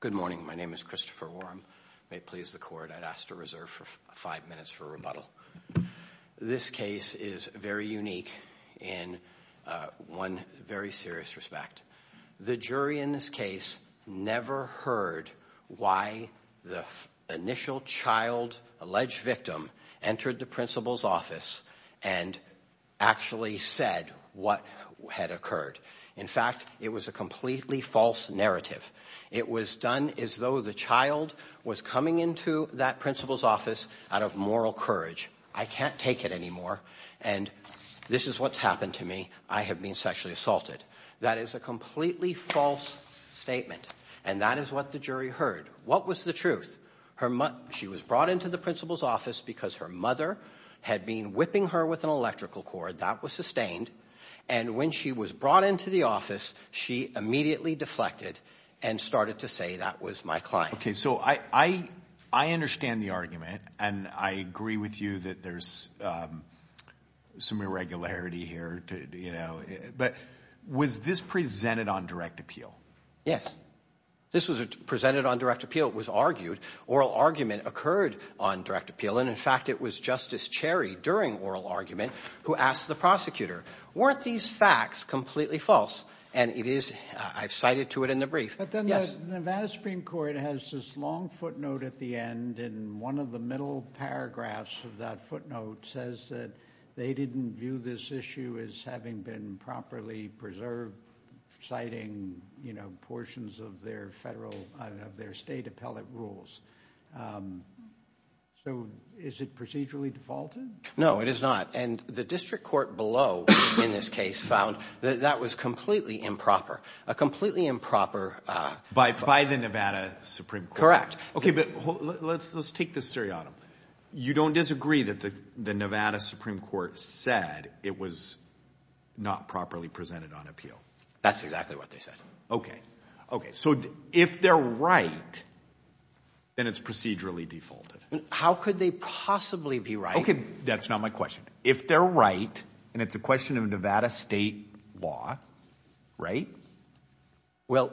Good morning. My name is Christopher Warren. May it please the court. I'd asked to reserve for five minutes for rebuttal this case is very unique in one very serious respect the jury in this case never heard why the initial child alleged victim entered the principal's office and Actually said what had occurred. In fact, it was a completely false narrative It was done as though the child was coming into that principal's office out of moral courage I can't take it anymore. And This is what's happened to me. I have been sexually assaulted. That is a completely false Statement and that is what the jury heard. What was the truth? Her mutt she was brought into the principal's office because her mother had been whipping her with an electrical cord that was sustained and When she was brought into the office she immediately deflected and started to say that was my client okay, so I I understand the argument and I agree with you that there's Some irregularity here, you know, but was this presented on direct appeal? Yes This was presented on direct appeal It was argued oral argument occurred on direct appeal And in fact, it was justice cherry during oral argument who asked the prosecutor weren't these facts completely false and it is I've cited to it in the brief But then the matter Supreme Court has this long footnote at the end and one of the middle Paragraphs of that footnote says that they didn't view this issue as having been properly preserved Citing, you know portions of their federal of their state appellate rules So Is it procedurally defaulted? It is not and the district court below in this case found that that was completely improper a completely improper By by the Nevada Supreme, correct? Okay, but let's take this Siri autumn You don't disagree that the the Nevada Supreme Court said it was Not properly presented on appeal. That's exactly what they said. Okay. Okay, so if they're right It's procedurally defaulted. How could they possibly be right? Okay, that's not my question if they're right and it's a question of Nevada state law right well,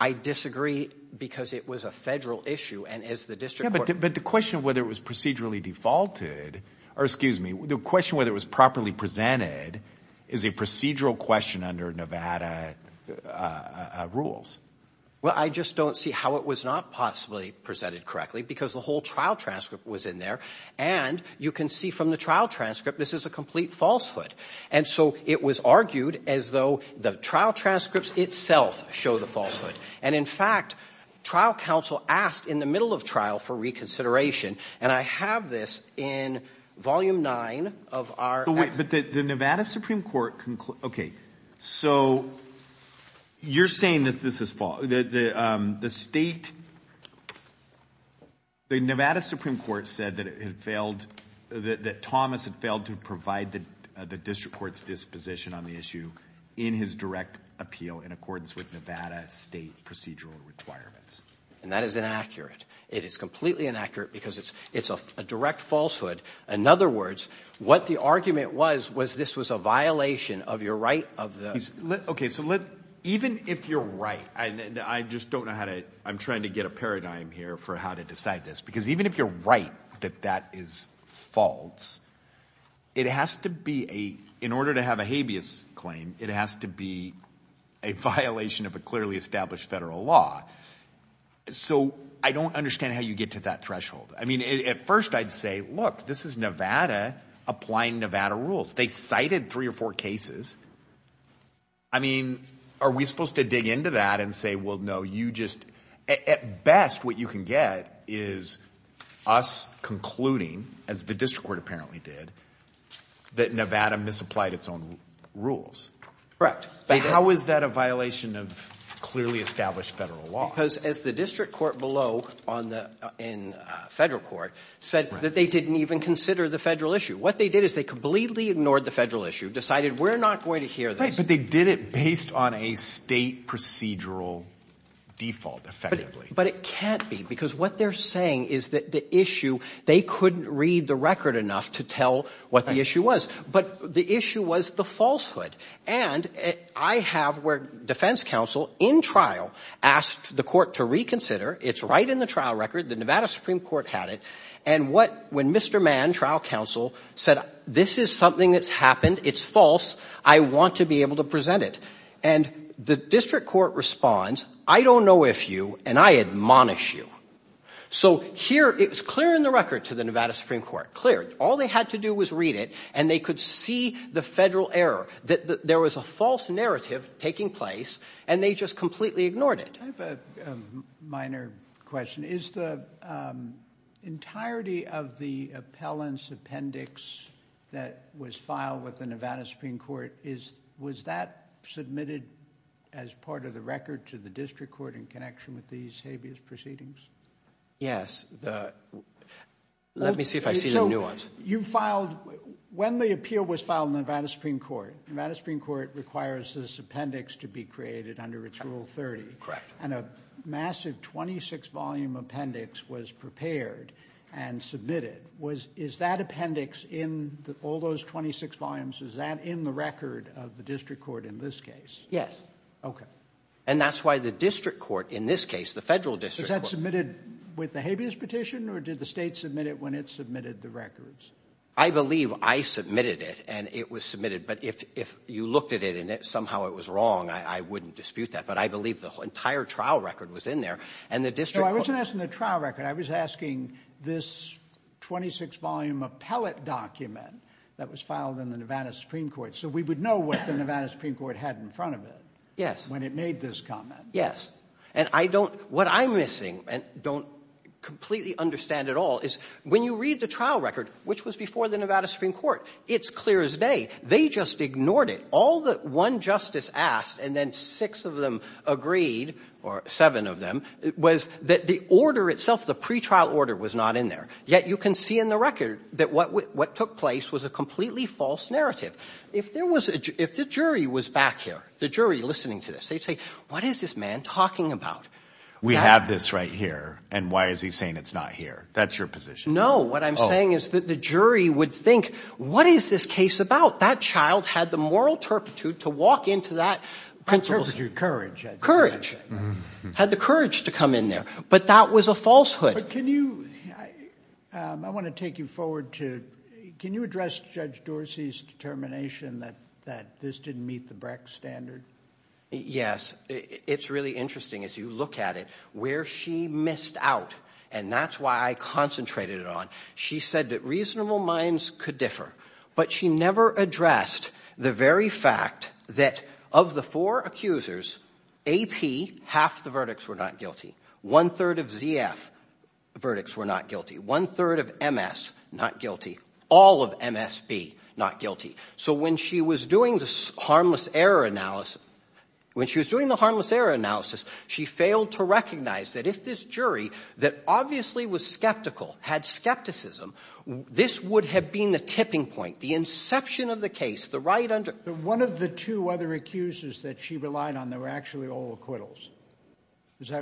I Disagree because it was a federal issue and as the district but the question of whether it was procedurally defaulted Or excuse me the question whether it was properly presented is a procedural question under, Nevada Rules well, I just don't see how it was not possibly presented correctly because the whole trial transcript was in there and You can see from the trial transcript This is a complete falsehood. And so it was argued as though the trial transcripts itself show the falsehood and in fact trial counsel asked in the middle of trial for reconsideration and I have this in Volume 9 of our but the Nevada Supreme Court. Okay, so You're saying that this is fall that the the state The Nevada Supreme Court said that it had failed That that Thomas had failed to provide the the district courts disposition on the issue in his direct appeal in accordance with Nevada state procedural requirements And that is inaccurate. It is completely inaccurate because it's it's a direct falsehood In other words what the argument was was this was a violation of your right of the okay so let even if you're right and I just don't know how to I'm trying to get a paradigm here for how to decide this because Even if you're right that that is false It has to be a in order to have a habeas claim. It has to be a violation of a clearly established federal law So I don't understand how you get to that threshold. I mean at first I'd say look this is Nevada Applying Nevada rules. They cited three or four cases. I Mean, are we supposed to dig into that and say well, no you just at best what you can get is Us concluding as the district court apparently did That Nevada misapplied its own rules, right? but how is that a violation of clearly established federal law because as the district court below on the in Federal court said that they didn't even consider the federal issue What they did is they completely ignored the federal issue decided we're not going to hear this But they did it based on a state procedural Default effectively, but it can't be because what they're saying is that the issue they couldn't read the record enough to tell what the issue Was but the issue was the falsehood and I have where defense counsel in trial Asked the court to reconsider. It's right in the trial record. The Nevada Supreme Court had it and what when mr Mann trial counsel said this is something that's happened. It's false I want to be able to present it and the district court responds. I don't know if you and I admonish you So here it was clear in the record to the Nevada Supreme Court clear All they had to do was read it and they could see the federal error that there was a false narrative Taking place and they just completely ignored it minor question is the Entirety of the appellants appendix that was filed with the Nevada Supreme Court is was that Submitted as part of the record to the district court in connection with these habeas proceedings yes, the Let me see if I see the nuance you filed When the appeal was filed in the Nevada Supreme Court Nevada Supreme Court requires this appendix to be created under its rule 30 Correct and a massive 26 volume appendix was prepared and Submitted was is that appendix in all those 26 volumes? Is that in the record of the district court in this case? Yes, okay And that's why the district court in this case the federal district that submitted With the habeas petition or did the state submit it when it submitted the records? I believe I submitted it and it was submitted But if if you looked at it and it somehow it was wrong I wouldn't dispute that but I believe the entire trial record was in there and the district I wasn't asking the trial record I was asking this 26 volume appellate document that was filed in the Nevada Supreme Court So we would know what the Nevada Supreme Court had in front of it. Yes when it made this comment Yes, and I don't what I'm missing and don't Completely understand at all is when you read the trial record, which was before the Nevada Supreme Court. It's clear as day They just ignored it all that one justice asked and then six of them agreed or seven of them It was that the order itself the pretrial order was not in there yet You can see in the record that what what took place was a completely false narrative If there was if the jury was back here the jury listening to this they'd say what is this man talking about? We have this right here. And why is he saying it's not here. That's your position What I'm saying is that the jury would think what is this case about that child had the moral turpitude to walk into that principles your courage courage Had the courage to come in there, but that was a falsehood. Can you I? I want to take you forward to can you address judge Dorsey's determination that that this didn't meet the Brecht standard Yes, it's really interesting as you look at it where she missed out and that's why I Concentrated it on she said that reasonable minds could differ but she never addressed the very fact that of the four accusers a P half the verdicts were not guilty one-third of ZF Verdicts were not guilty one-third of MS not guilty all of MSB not guilty So when she was doing this harmless error analysis when she was doing the harmless error analysis She failed to recognize that if this jury that obviously was skeptical had skepticism This would have been the tipping point the inception of the case the right under one of the two other Accusers that she relied on there were actually all acquittals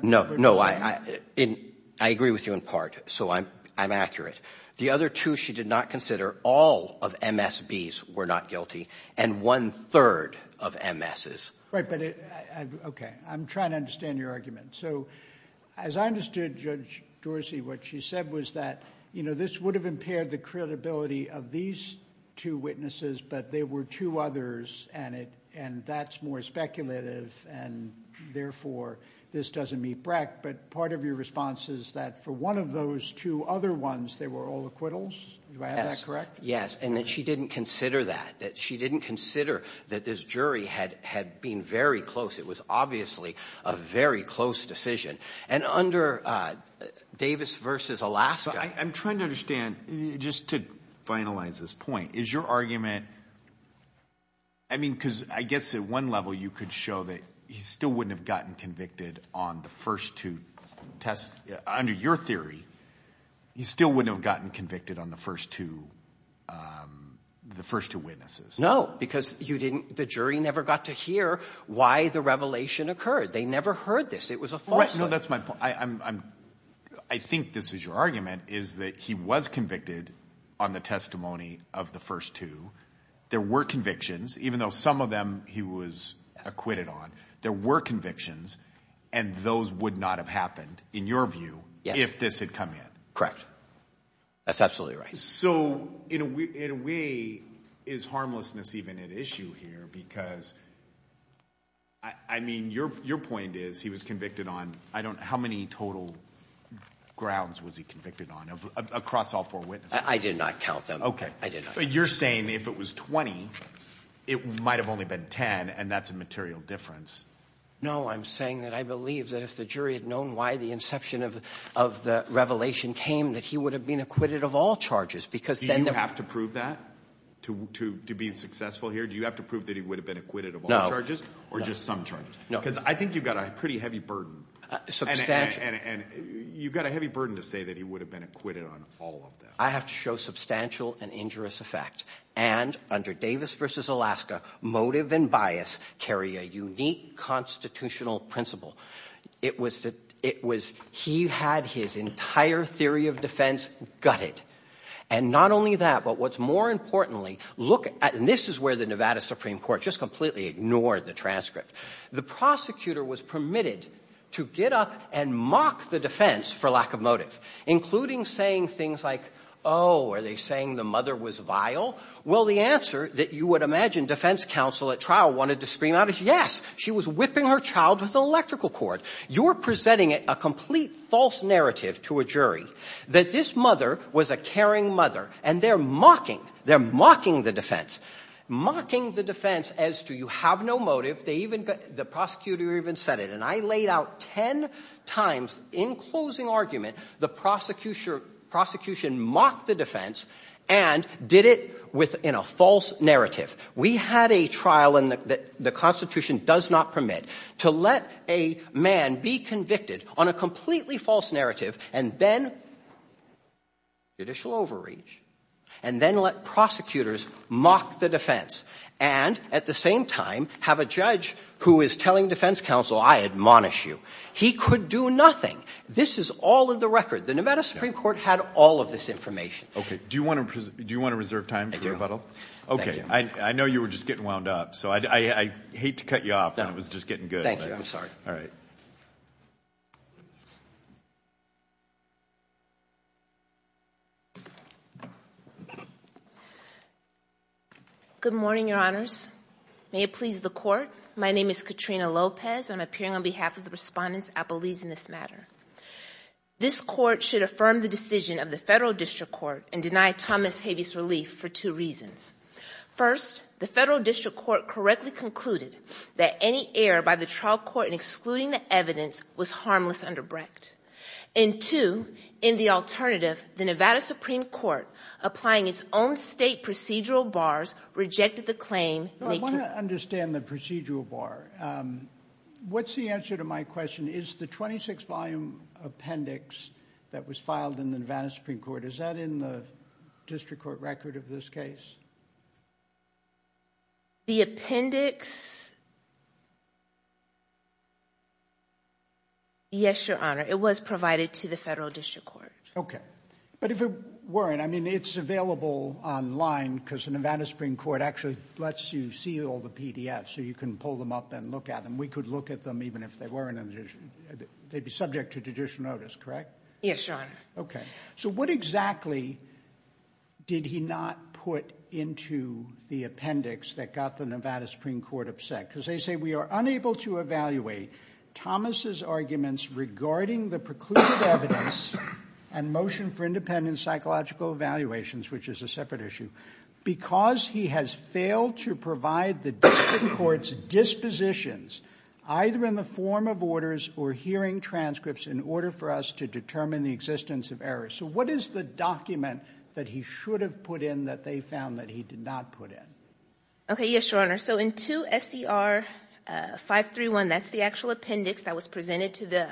No, no, I I in I agree with you in part So I'm I'm accurate the other two she did not consider all of MS bees were not guilty and one-third of MS's right, but it Okay, I'm trying to understand your argument So as I understood judge Dorsey what she said was that you know This would have impaired the credibility of these two witnesses but there were two others and it and that's more speculative and Therefore this doesn't meet Brecht But part of your response is that for one of those two other ones they were all acquittals Yes, and that she didn't consider that that she didn't consider that this jury had had been very close it was obviously a very close decision and under Davis versus Alaska, I'm trying to understand just to finalize this point is your argument I Mean because I guess at one level you could show that he still wouldn't have gotten convicted on the first two tests under your theory He still wouldn't have gotten convicted on the first two The first two witnesses no because you didn't the jury never got to hear why the revelation occurred. They never heard this It was a right. No, that's my point. I I'm I think this is your argument Is that he was convicted on the testimony of the first two? there were convictions even though some of them he was Acquitted on there were convictions and those would not have happened in your view. Yeah, if this had come in, correct That's absolutely right. So, you know, we is harmlessness even an issue here because I Mean your your point is he was convicted on I don't how many total Grounds was he convicted on of across all four witnesses? I did not count them. Okay, I did You're saying if it was 20, it might have only been 10 and that's a material difference no, I'm saying that I believe that if the jury had known why the inception of of the Revelation came that he would have been acquitted of all charges because then they have to prove that To to be successful here. Do you have to prove that he would have been acquitted of all charges or just some charges? No, because I think you've got a pretty heavy burden And you've got a heavy burden to say that he would have been acquitted on all of them I have to show substantial and injurious effect and under Davis versus Alaska motive and bias carry a unique Constitutional principle it was that it was he had his entire theory of defense gutted and not only that But what's more importantly look at and this is where the Nevada Supreme Court just completely ignored the transcript The prosecutor was permitted to get up and mock the defense for lack of motive Including saying things like oh, are they saying the mother was vile? Well, the answer that you would imagine defense counsel at trial wanted to scream out is yes She was whipping her child with electrical cord You're presenting it a complete false narrative to a jury that this mother was a caring mother and they're mocking They're mocking the defense Mocking the defense as to you have no motive They even got the prosecutor even said it and I laid out ten times in closing argument the prosecution prosecution mocked the defense and Did it with in a false narrative? we had a trial and that the Constitution does not permit to let a man be convicted on a completely false narrative and then Judicial overreach and then let prosecutors mock the defense and At the same time have a judge who is telling defense counsel. I admonish you he could do nothing This is all of the record the Nevada Supreme Court had all of this information. Okay, do you want to do you want to reserve time? Thank you. Okay. I know you were just getting wound up. So I Hate to cut you off. That was just getting good. Thank you. I'm sorry. All right You Good morning, Your Honors May it please the court. My name is Katrina Lopez. I'm appearing on behalf of the respondents appellees in this matter This court should affirm the decision of the federal district court and deny Thomas habeas relief for two reasons first the federal district court correctly concluded that any error by the trial court in excluding the evidence was harmless under Brecht and To in the alternative the Nevada Supreme Court applying its own state procedural bars Rejected the claim. I want to understand the procedural bar What's the answer to my question is the 26 volume? Appendix that was filed in the Nevada Supreme Court. Is that in the district court record of this case? The appendix Yes Yes, your honor it was provided to the federal district court, okay, but if it weren't I mean it's available Online because the Nevada Supreme Court actually lets you see all the PDF so you can pull them up and look at them We could look at them even if they weren't in addition. They'd be subject to judicial notice, correct? Yes, your honor. Okay. So what exactly? Did he not put into the appendix that got the Nevada Supreme Court upset because they say we are unable to evaluate Thomas's arguments regarding the precluded evidence and motion for independent psychological evaluations, which is a separate issue Because he has failed to provide the courts Dispositions either in the form of orders or hearing transcripts in order for us to determine the existence of errors So what is the document that he should have put in that they found that he did not put in? Okay. Yes, your honor. So in to SCR 531 that's the actual appendix that was presented to the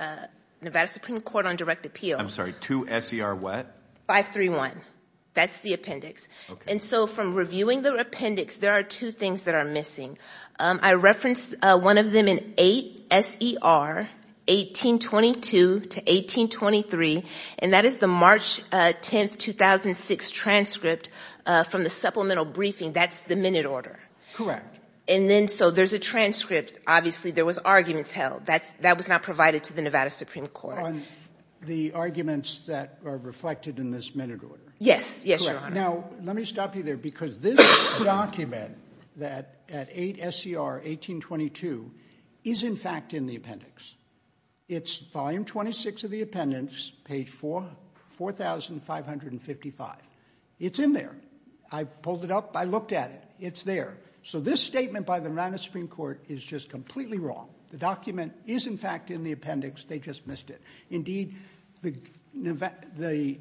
Nevada Supreme Court on direct appeal. I'm sorry to SCR What 531 that's the appendix. And so from reviewing the appendix, there are two things that are missing I referenced one of them in 8 ser 1822 to 1823 and that is the March 10th 2006 transcript from the supplemental briefing. That's the minute order, correct? And then so there's a transcript obviously there was arguments held that's that was not provided to the Nevada Supreme Court The arguments that are reflected in this minute order. Yes. Yes. Now, let me stop you there because this Document that at 8 SCR 1822 is in fact in the appendix It's volume 26 of the appendix page four 4555 it's in there. I pulled it up. I looked at it. It's there So this statement by the Nevada Supreme Court is just completely wrong. The document is in fact in the appendix they just missed it indeed the the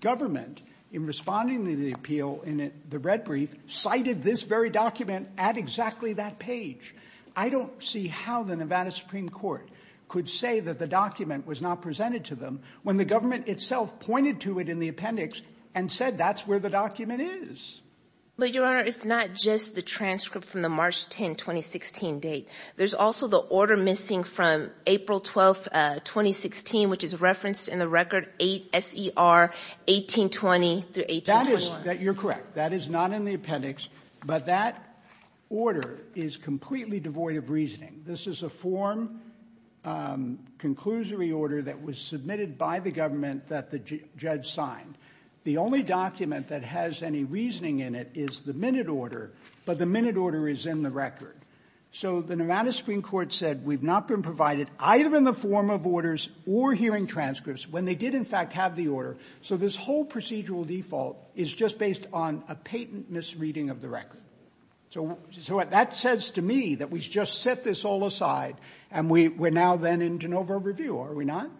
Government in responding to the appeal in it the red brief cited this very document at exactly that page I don't see how the Nevada Supreme Court could say that the document was not presented to them when the government itself pointed to it in the appendix and Said that's where the document is But your honor, it's not just the transcript from the March 10 2016 date. There's also the order missing from April 12 2016 which is referenced in the record 8 SE are 1823 that is that you're correct. That is not in the appendix, but that Order is completely devoid of reasoning. This is a form Conclusory order that was submitted by the government that the judge signed The only document that has any reasoning in it is the minute order, but the minute order is in the record So the Nevada Supreme Court said we've not been provided either in the form of orders or hearing Transcripts when they did in fact have the order. So this whole procedural default is just based on a patent misreading of the record So what that says to me that we just set this all aside and we were now then in de novo review. Are we not?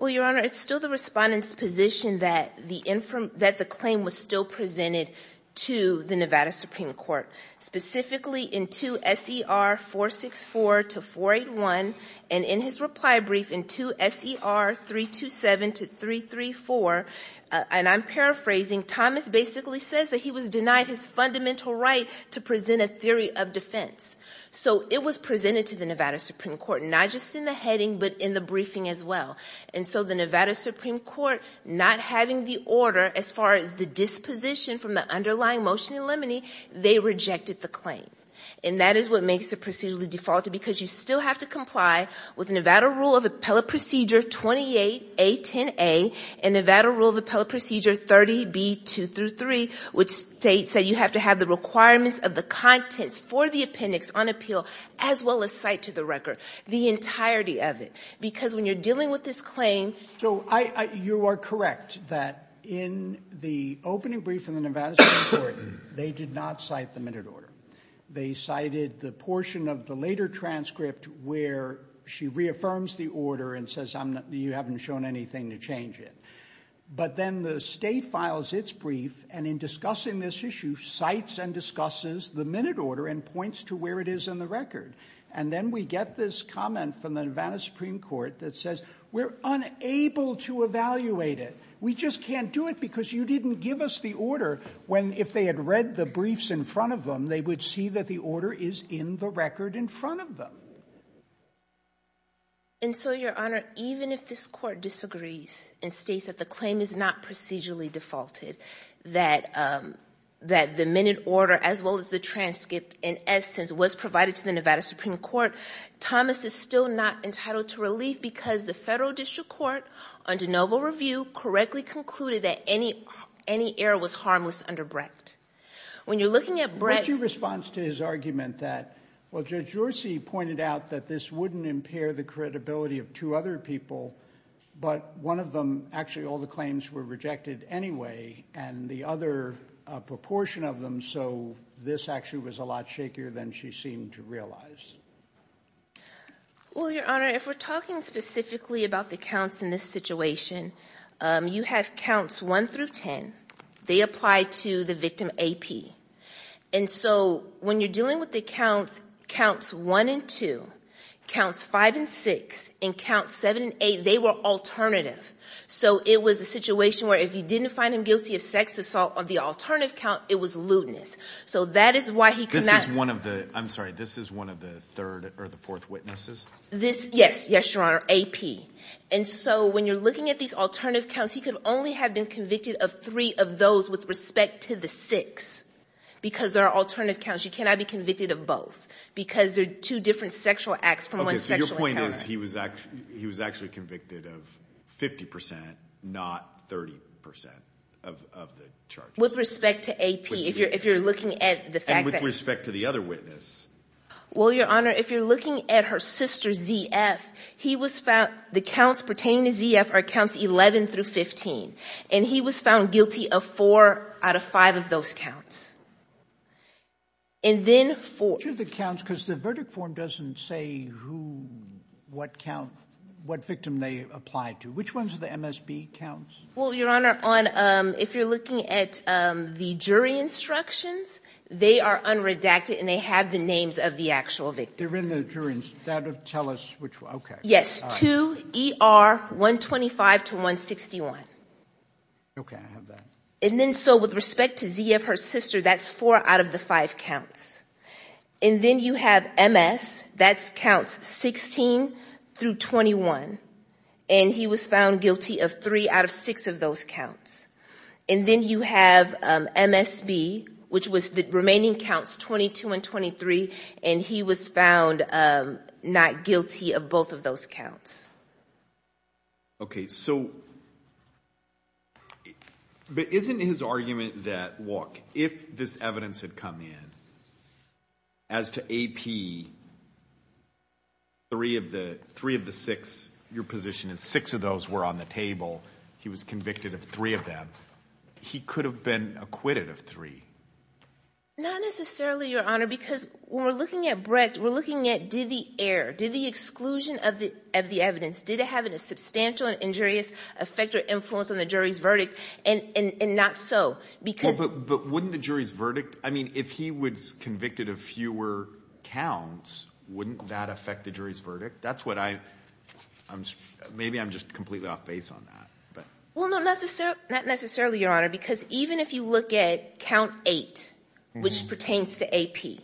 Well, your honor, it's still the respondents position that the infirm that the claim was still presented to the Nevada Supreme Court specifically in 2 se are 464 to 481 and in his reply brief in 2 se are 327 to 334 And I'm paraphrasing Thomas basically says that he was denied his fundamental right to present a theory of defense So it was presented to the Nevada Supreme Court not just in the heading but in the briefing as well And so the Nevada Supreme Court not having the order as far as the disposition from the underlying motion in limine They rejected the claim and that is what makes the procedurally defaulted because you still have to comply with Nevada rule of appellate procedure 28 a 10a and Nevada rule of appellate procedure 30 b 2 through 3 Which states that you have to have the requirements of the contents for the appendix on appeal as well as cite to the record? The entirety of it because when you're dealing with this claim So I you are correct that in the opening brief in the Nevada They did not cite the minute order They cited the portion of the later transcript where she reaffirms the order and says I'm not you haven't shown anything to change it But then the state files its brief and in discussing this issue Cites and discusses the minute order and points to where it is in the record And then we get this comment from the Nevada Supreme Court that says we're unable to evaluate it We just can't do it because you didn't give us the order when if they had read the briefs in front of them They would see that the order is in the record in front of them And so your honor, even if this court disagrees and states that the claim is not procedurally defaulted that That the minute order as well as the transcript in essence was provided to the Nevada Supreme Court Thomas is still not entitled to relief because the federal district court on de novo review correctly concluded that any Any error was harmless under Brecht When you're looking at bretty response to his argument that well judge You're see pointed out that this wouldn't impair the credibility of two other people But one of them actually all the claims were rejected anyway, and the other Proportion of them. So this actually was a lot shakier than she seemed to realize Well, your honor if we're talking specifically about the counts in this situation You have counts 1 through 10 they apply to the victim AP and So when you're dealing with the counts counts 1 and 2 Counts 5 and 6 and count 7 and 8 they were alternative So it was a situation where if you didn't find him guilty of sex assault on the alternative count It was lewdness. So that is why he could not one of the I'm sorry This is one of the third or the fourth witnesses this. Yes. Yes, your honor AP And so when you're looking at these alternative counts He could only have been convicted of three of those with respect to the six Because there are alternative counts You cannot be convicted of both because they're two different sexual acts from one sexual point is he was actually he was actually convicted of 50% not 30% With respect to AP if you're if you're looking at the fact with respect to the other witness Well, your honor if you're looking at her sister ZF he was found the counts pertaining to ZF are counts 11 through 15 and he was found guilty of four out of five of those counts and Then for the counts because the verdict form doesn't say who? What count what victim they applied to which ones are the MSB counts? Well, your honor on if you're looking at the jury instructions They are unredacted and they have the names of the actual victims. They're in the jury instead of tell us which okay Yes to ER 125 to 161 Okay, and then so with respect to ZF her sister, that's four out of the five counts and Then you have MS that's counts 16 through 21 And he was found guilty of three out of six of those counts and then you have MSB which was the remaining counts 22 and 23 and he was found Not guilty of both of those counts Okay, so But isn't his argument that walk if this evidence had come in as to AP Three of the three of the six your position is six of those were on the table He was convicted of three of them. He could have been acquitted of three Not necessarily your honor because we're looking at Brecht We're looking at did the air did the exclusion of the of the evidence did it have in a substantial and injurious? Effect or influence on the jury's verdict and and not so because but but wouldn't the jury's verdict I mean if he was convicted of fewer Counts wouldn't that affect the jury's verdict? That's what I I'm just maybe I'm just completely off base on that Well, no, not necessarily not necessarily your honor because even if you look at count eight, which pertains to AP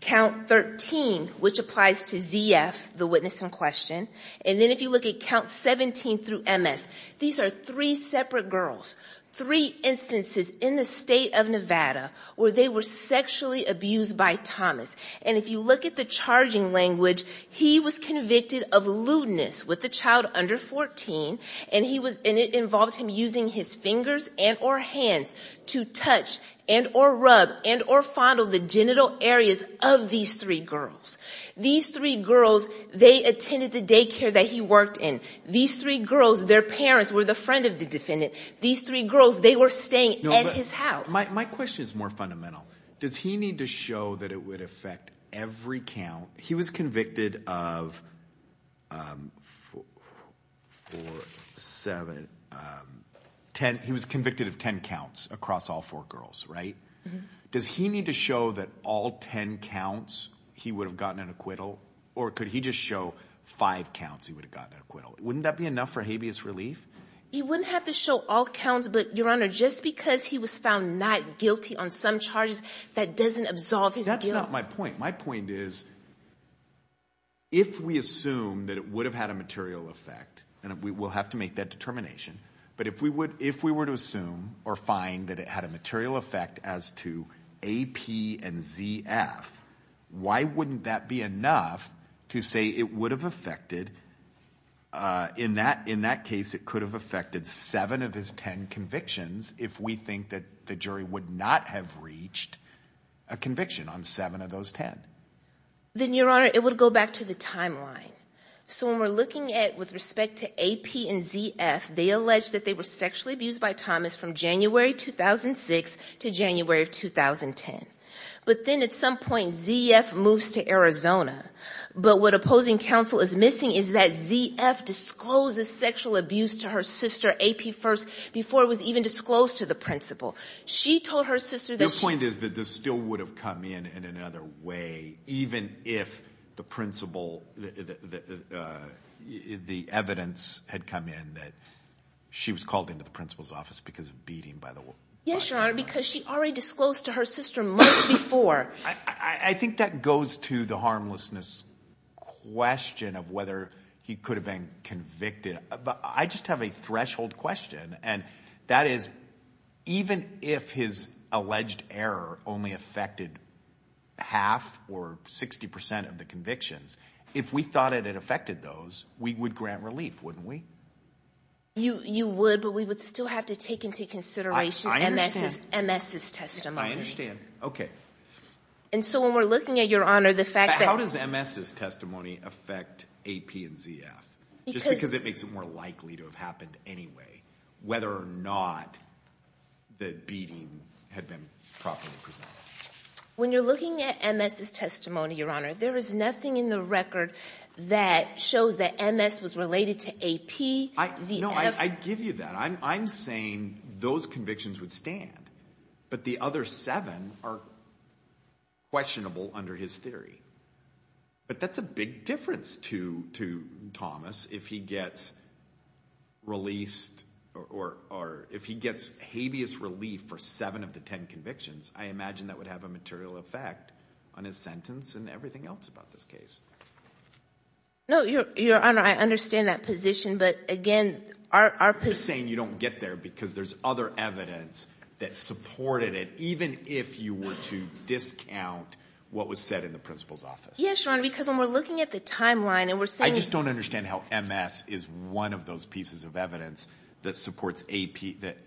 Count 13 which applies to ZF the witness in question And then if you look at count 17 through MS These are three separate girls three instances in the state of Nevada where they were Sexually abused by Thomas and if you look at the charging language he was convicted of lewdness with the child under 14 and he was in it involves him using his fingers and or Hands to touch and or rub and or fondle the genital areas of these three girls These three girls they attended the daycare that he worked in these three girls Their parents were the friend of the defendant these three girls. They were staying at his house My question is more fundamental. Does he need to show that it would affect every count? He was convicted of Seven Ten he was convicted of ten counts across all four girls, right? Does he need to show that all ten counts? He would have gotten an acquittal or could he just show five counts? He would have gotten acquittal wouldn't that be enough for habeas relief? He wouldn't have to show all counts But your honor just because he was found not guilty on some charges that doesn't absolve his that's not my point my point is If we assume that it would have had a material effect and we will have to make that determination but if we would if we were to assume or find that it had a material effect as to AP and ZF Why wouldn't that be enough to say it would have affected? In that in that case it could have affected seven of his ten convictions if we think that the jury would not have reached a conviction on seven of those ten Then your honor it would go back to the timeline So when we're looking at with respect to AP and ZF they alleged that they were sexually abused by Thomas from January 2006 to January of 2010, but then at some point ZF moves to Arizona But what opposing counsel is missing is that ZF Discloses sexual abuse to her sister AP first before it was even disclosed to the principal She told her sister this point is that this still would have come in in another way even if the principal The evidence had come in that She was called into the principal's office because of beating by the way Yes, your honor because she already disclosed to her sister months before I think that goes to the harmlessness Question of whether he could have been convicted, but I just have a threshold question and that is Even if his alleged error only affected Half or 60% of the convictions if we thought it had affected those we would grant relief wouldn't we? You you would but we would still have to take into consideration MSS testimony I understand okay, and so when we're looking at your honor the fact that how does MSS testimony affect AP and ZF? Because it makes it more likely to have happened anyway, whether or not The beating had been properly presented When you're looking at MSS testimony your honor there is nothing in the record that Shows that MS was related to AP. I know I give you that I'm saying those convictions would stand, but the other seven are Questionable under his theory, but that's a big difference to to Thomas if he gets Released or or if he gets habeas relief for seven of the ten convictions I imagine that would have a material effect on his sentence and everything else about this case No your honor I understand that position, but again our Saying you don't get there because there's other evidence that supported it even if you were to discount What was said in the principal's office? Yes, Ron because when we're looking at the timeline and we're saying I just don't understand how MS is one of those pieces of evidence That supports AP that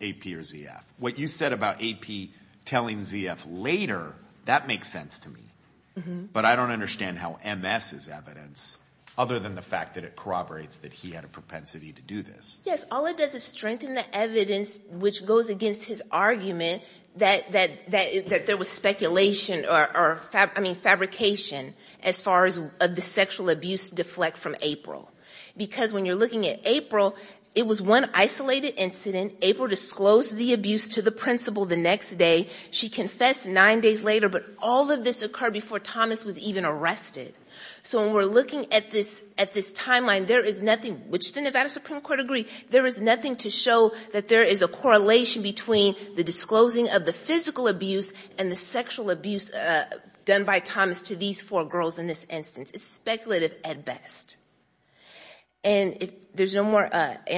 AP or ZF what you said about AP Telling ZF later that makes sense to me But I don't understand how MS is evidence other than the fact that it corroborates that he had a propensity to do this Yes All it does is strengthen the evidence which goes against his argument that that that that there was speculation or I mean Fabrication as far as of the sexual abuse deflect from April because when you're looking at April It was one isolated incident April disclosed the abuse to the principal the next day She confessed nine days later, but all of this occurred before Thomas was even arrested So when we're looking at this at this timeline, there is nothing which the Nevada Supreme Court agreed There is nothing to show that there is a correlation between the disclosing of the physical abuse and the sexual abuse Done by Thomas to these four girls in this instance. It's speculative at best and There's no more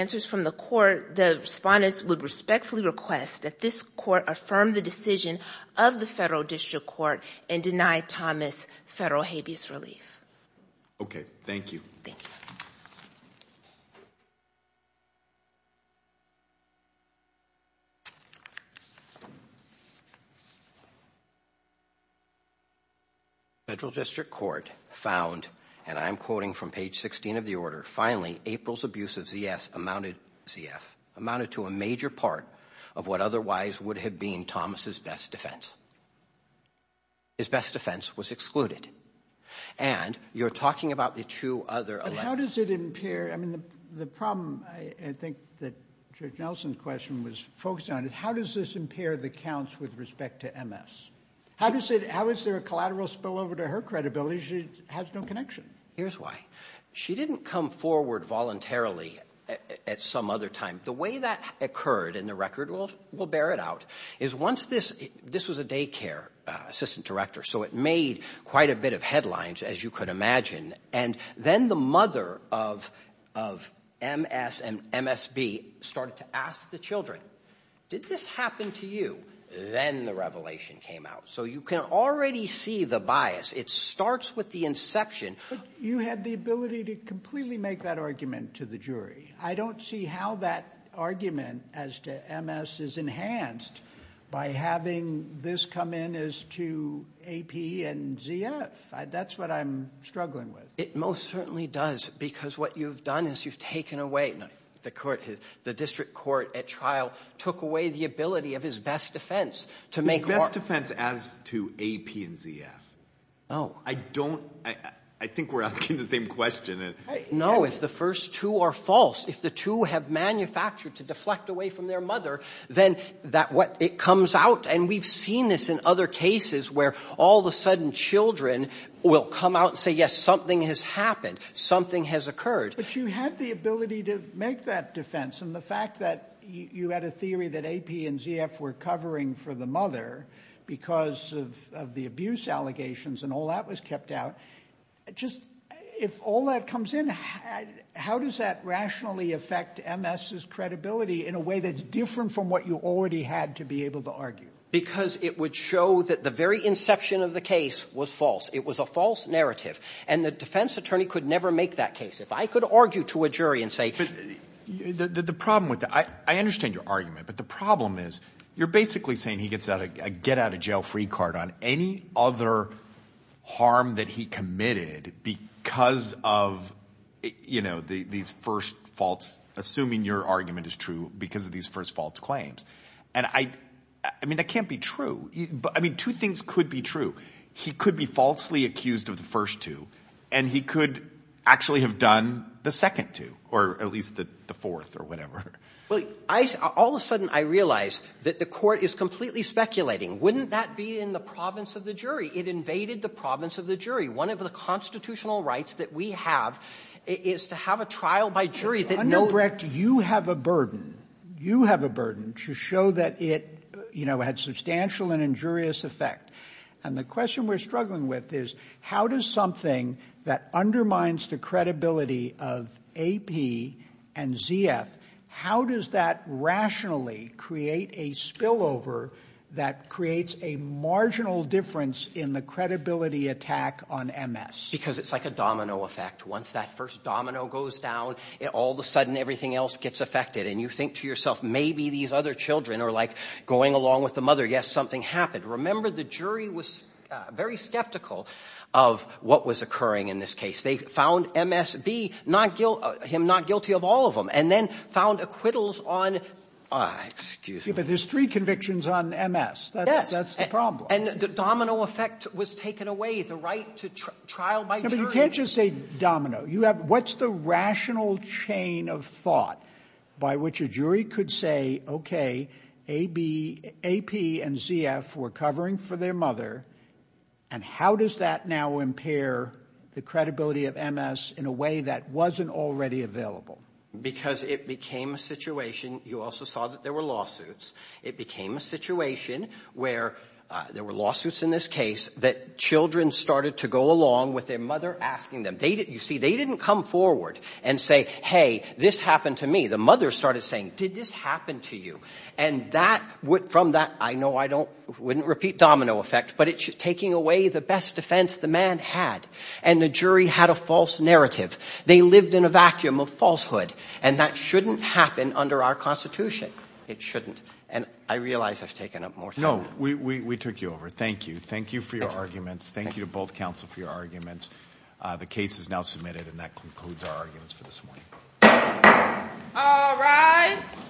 answers from the court Respondents would respectfully request that this court affirmed the decision of the federal district court and denied Thomas federal habeas relief Okay. Thank you Federal district court found and I'm quoting from page 16 of the order finally April's abuse of ZS amounted ZF Amounted to a major part of what otherwise would have been Thomas's best defense His best defense was excluded and you're talking about the two other how does it impair? I mean the problem I think that Nelson's question was focused on it. How does this impair the counts with respect to MS? How does it how is there a collateral spillover to her credibility? She has no connection. Here's why she didn't come forward Voluntarily at some other time the way that occurred in the record world will bear it out is once this this was a daycare assistant director, so it made quite a bit of headlines as you could imagine and then the mother of MS and MSB started to ask the children Did this happen to you then the revelation came out so you can already see the bias it starts with the inception You had the ability to completely make that argument to the jury I don't see how that argument as to MS is enhanced by having this come in as to AP and ZF that's what I'm struggling with it Most certainly does because what you've done is you've taken away the court The district court at trial took away the ability of his best defense to make best defense as to AP and ZF Oh, I don't I think we're asking the same question No If the first two are false if the two have manufactured to deflect away from their mother Then that what it comes out and we've seen this in other cases where all the sudden children Will come out and say yes something has happened something has occurred But you had the ability to make that defense and the fact that you had a theory that AP and ZF were covering for the mother Because of the abuse allegations and all that was kept out Just if all that comes in How does that rationally affect? MS's credibility in a way that's different from what you already had to be able to argue Because it would show that the very inception of the case was false it was a false narrative and the defense attorney could never make that case if I could argue to a jury and say The problem with that I understand your argument But the problem is you're basically saying he gets out a get out of jail free card on any other harm that he committed because of You know these first faults assuming your argument is true because of these first false claims And I I mean that can't be true But I mean two things could be true He could be falsely accused of the first two and he could Actually have done the second two or at least that the fourth or whatever well I all of a sudden I realized that the court is completely Speculating wouldn't that be in the province of the jury it invaded the province of the jury one of the constitutional rights that we have Is to have a trial by jury that no wrecked you have a burden You have a burden to show that it you know had substantial and injurious effect and the question we're struggling with is how does something that undermines the credibility of AP and ZF how does that? Rationally create a spillover that creates a marginal difference in the credibility Attack on MS because it's like a domino effect once that first domino goes down All the sudden everything else gets affected and you think to yourself. Maybe these other children are like going along with the mother Yes, something happened. Remember the jury was very skeptical of What was occurring in this case? They found MSB not guilt him not guilty of all of them and then found acquittals on Excuse me, but there's three convictions on MS That's that's the problem and the domino effect was taken away the right to trial by you can't just say domino You have what's the rational chain of thought by which a jury could say? okay, a B AP and ZF were covering for their mother and How does that now impair the credibility of MS in a way that wasn't already available? Because it became a situation. You also saw that there were lawsuits. It became a situation where There were lawsuits in this case that children started to go along with their mother asking them They didn't you see they didn't come forward and say hey this happened to me The mother started saying did this happen to you and that would from that? I know I don't wouldn't repeat domino effect But it should taking away the best defense the man had and the jury had a false narrative They lived in a vacuum of falsehood and that shouldn't happen under our Constitution It shouldn't and I realize I've taken up more. No, we took you over. Thank you. Thank you for your arguments Thank you to both counsel for your arguments. The case is now submitted and that concludes our arguments for this morning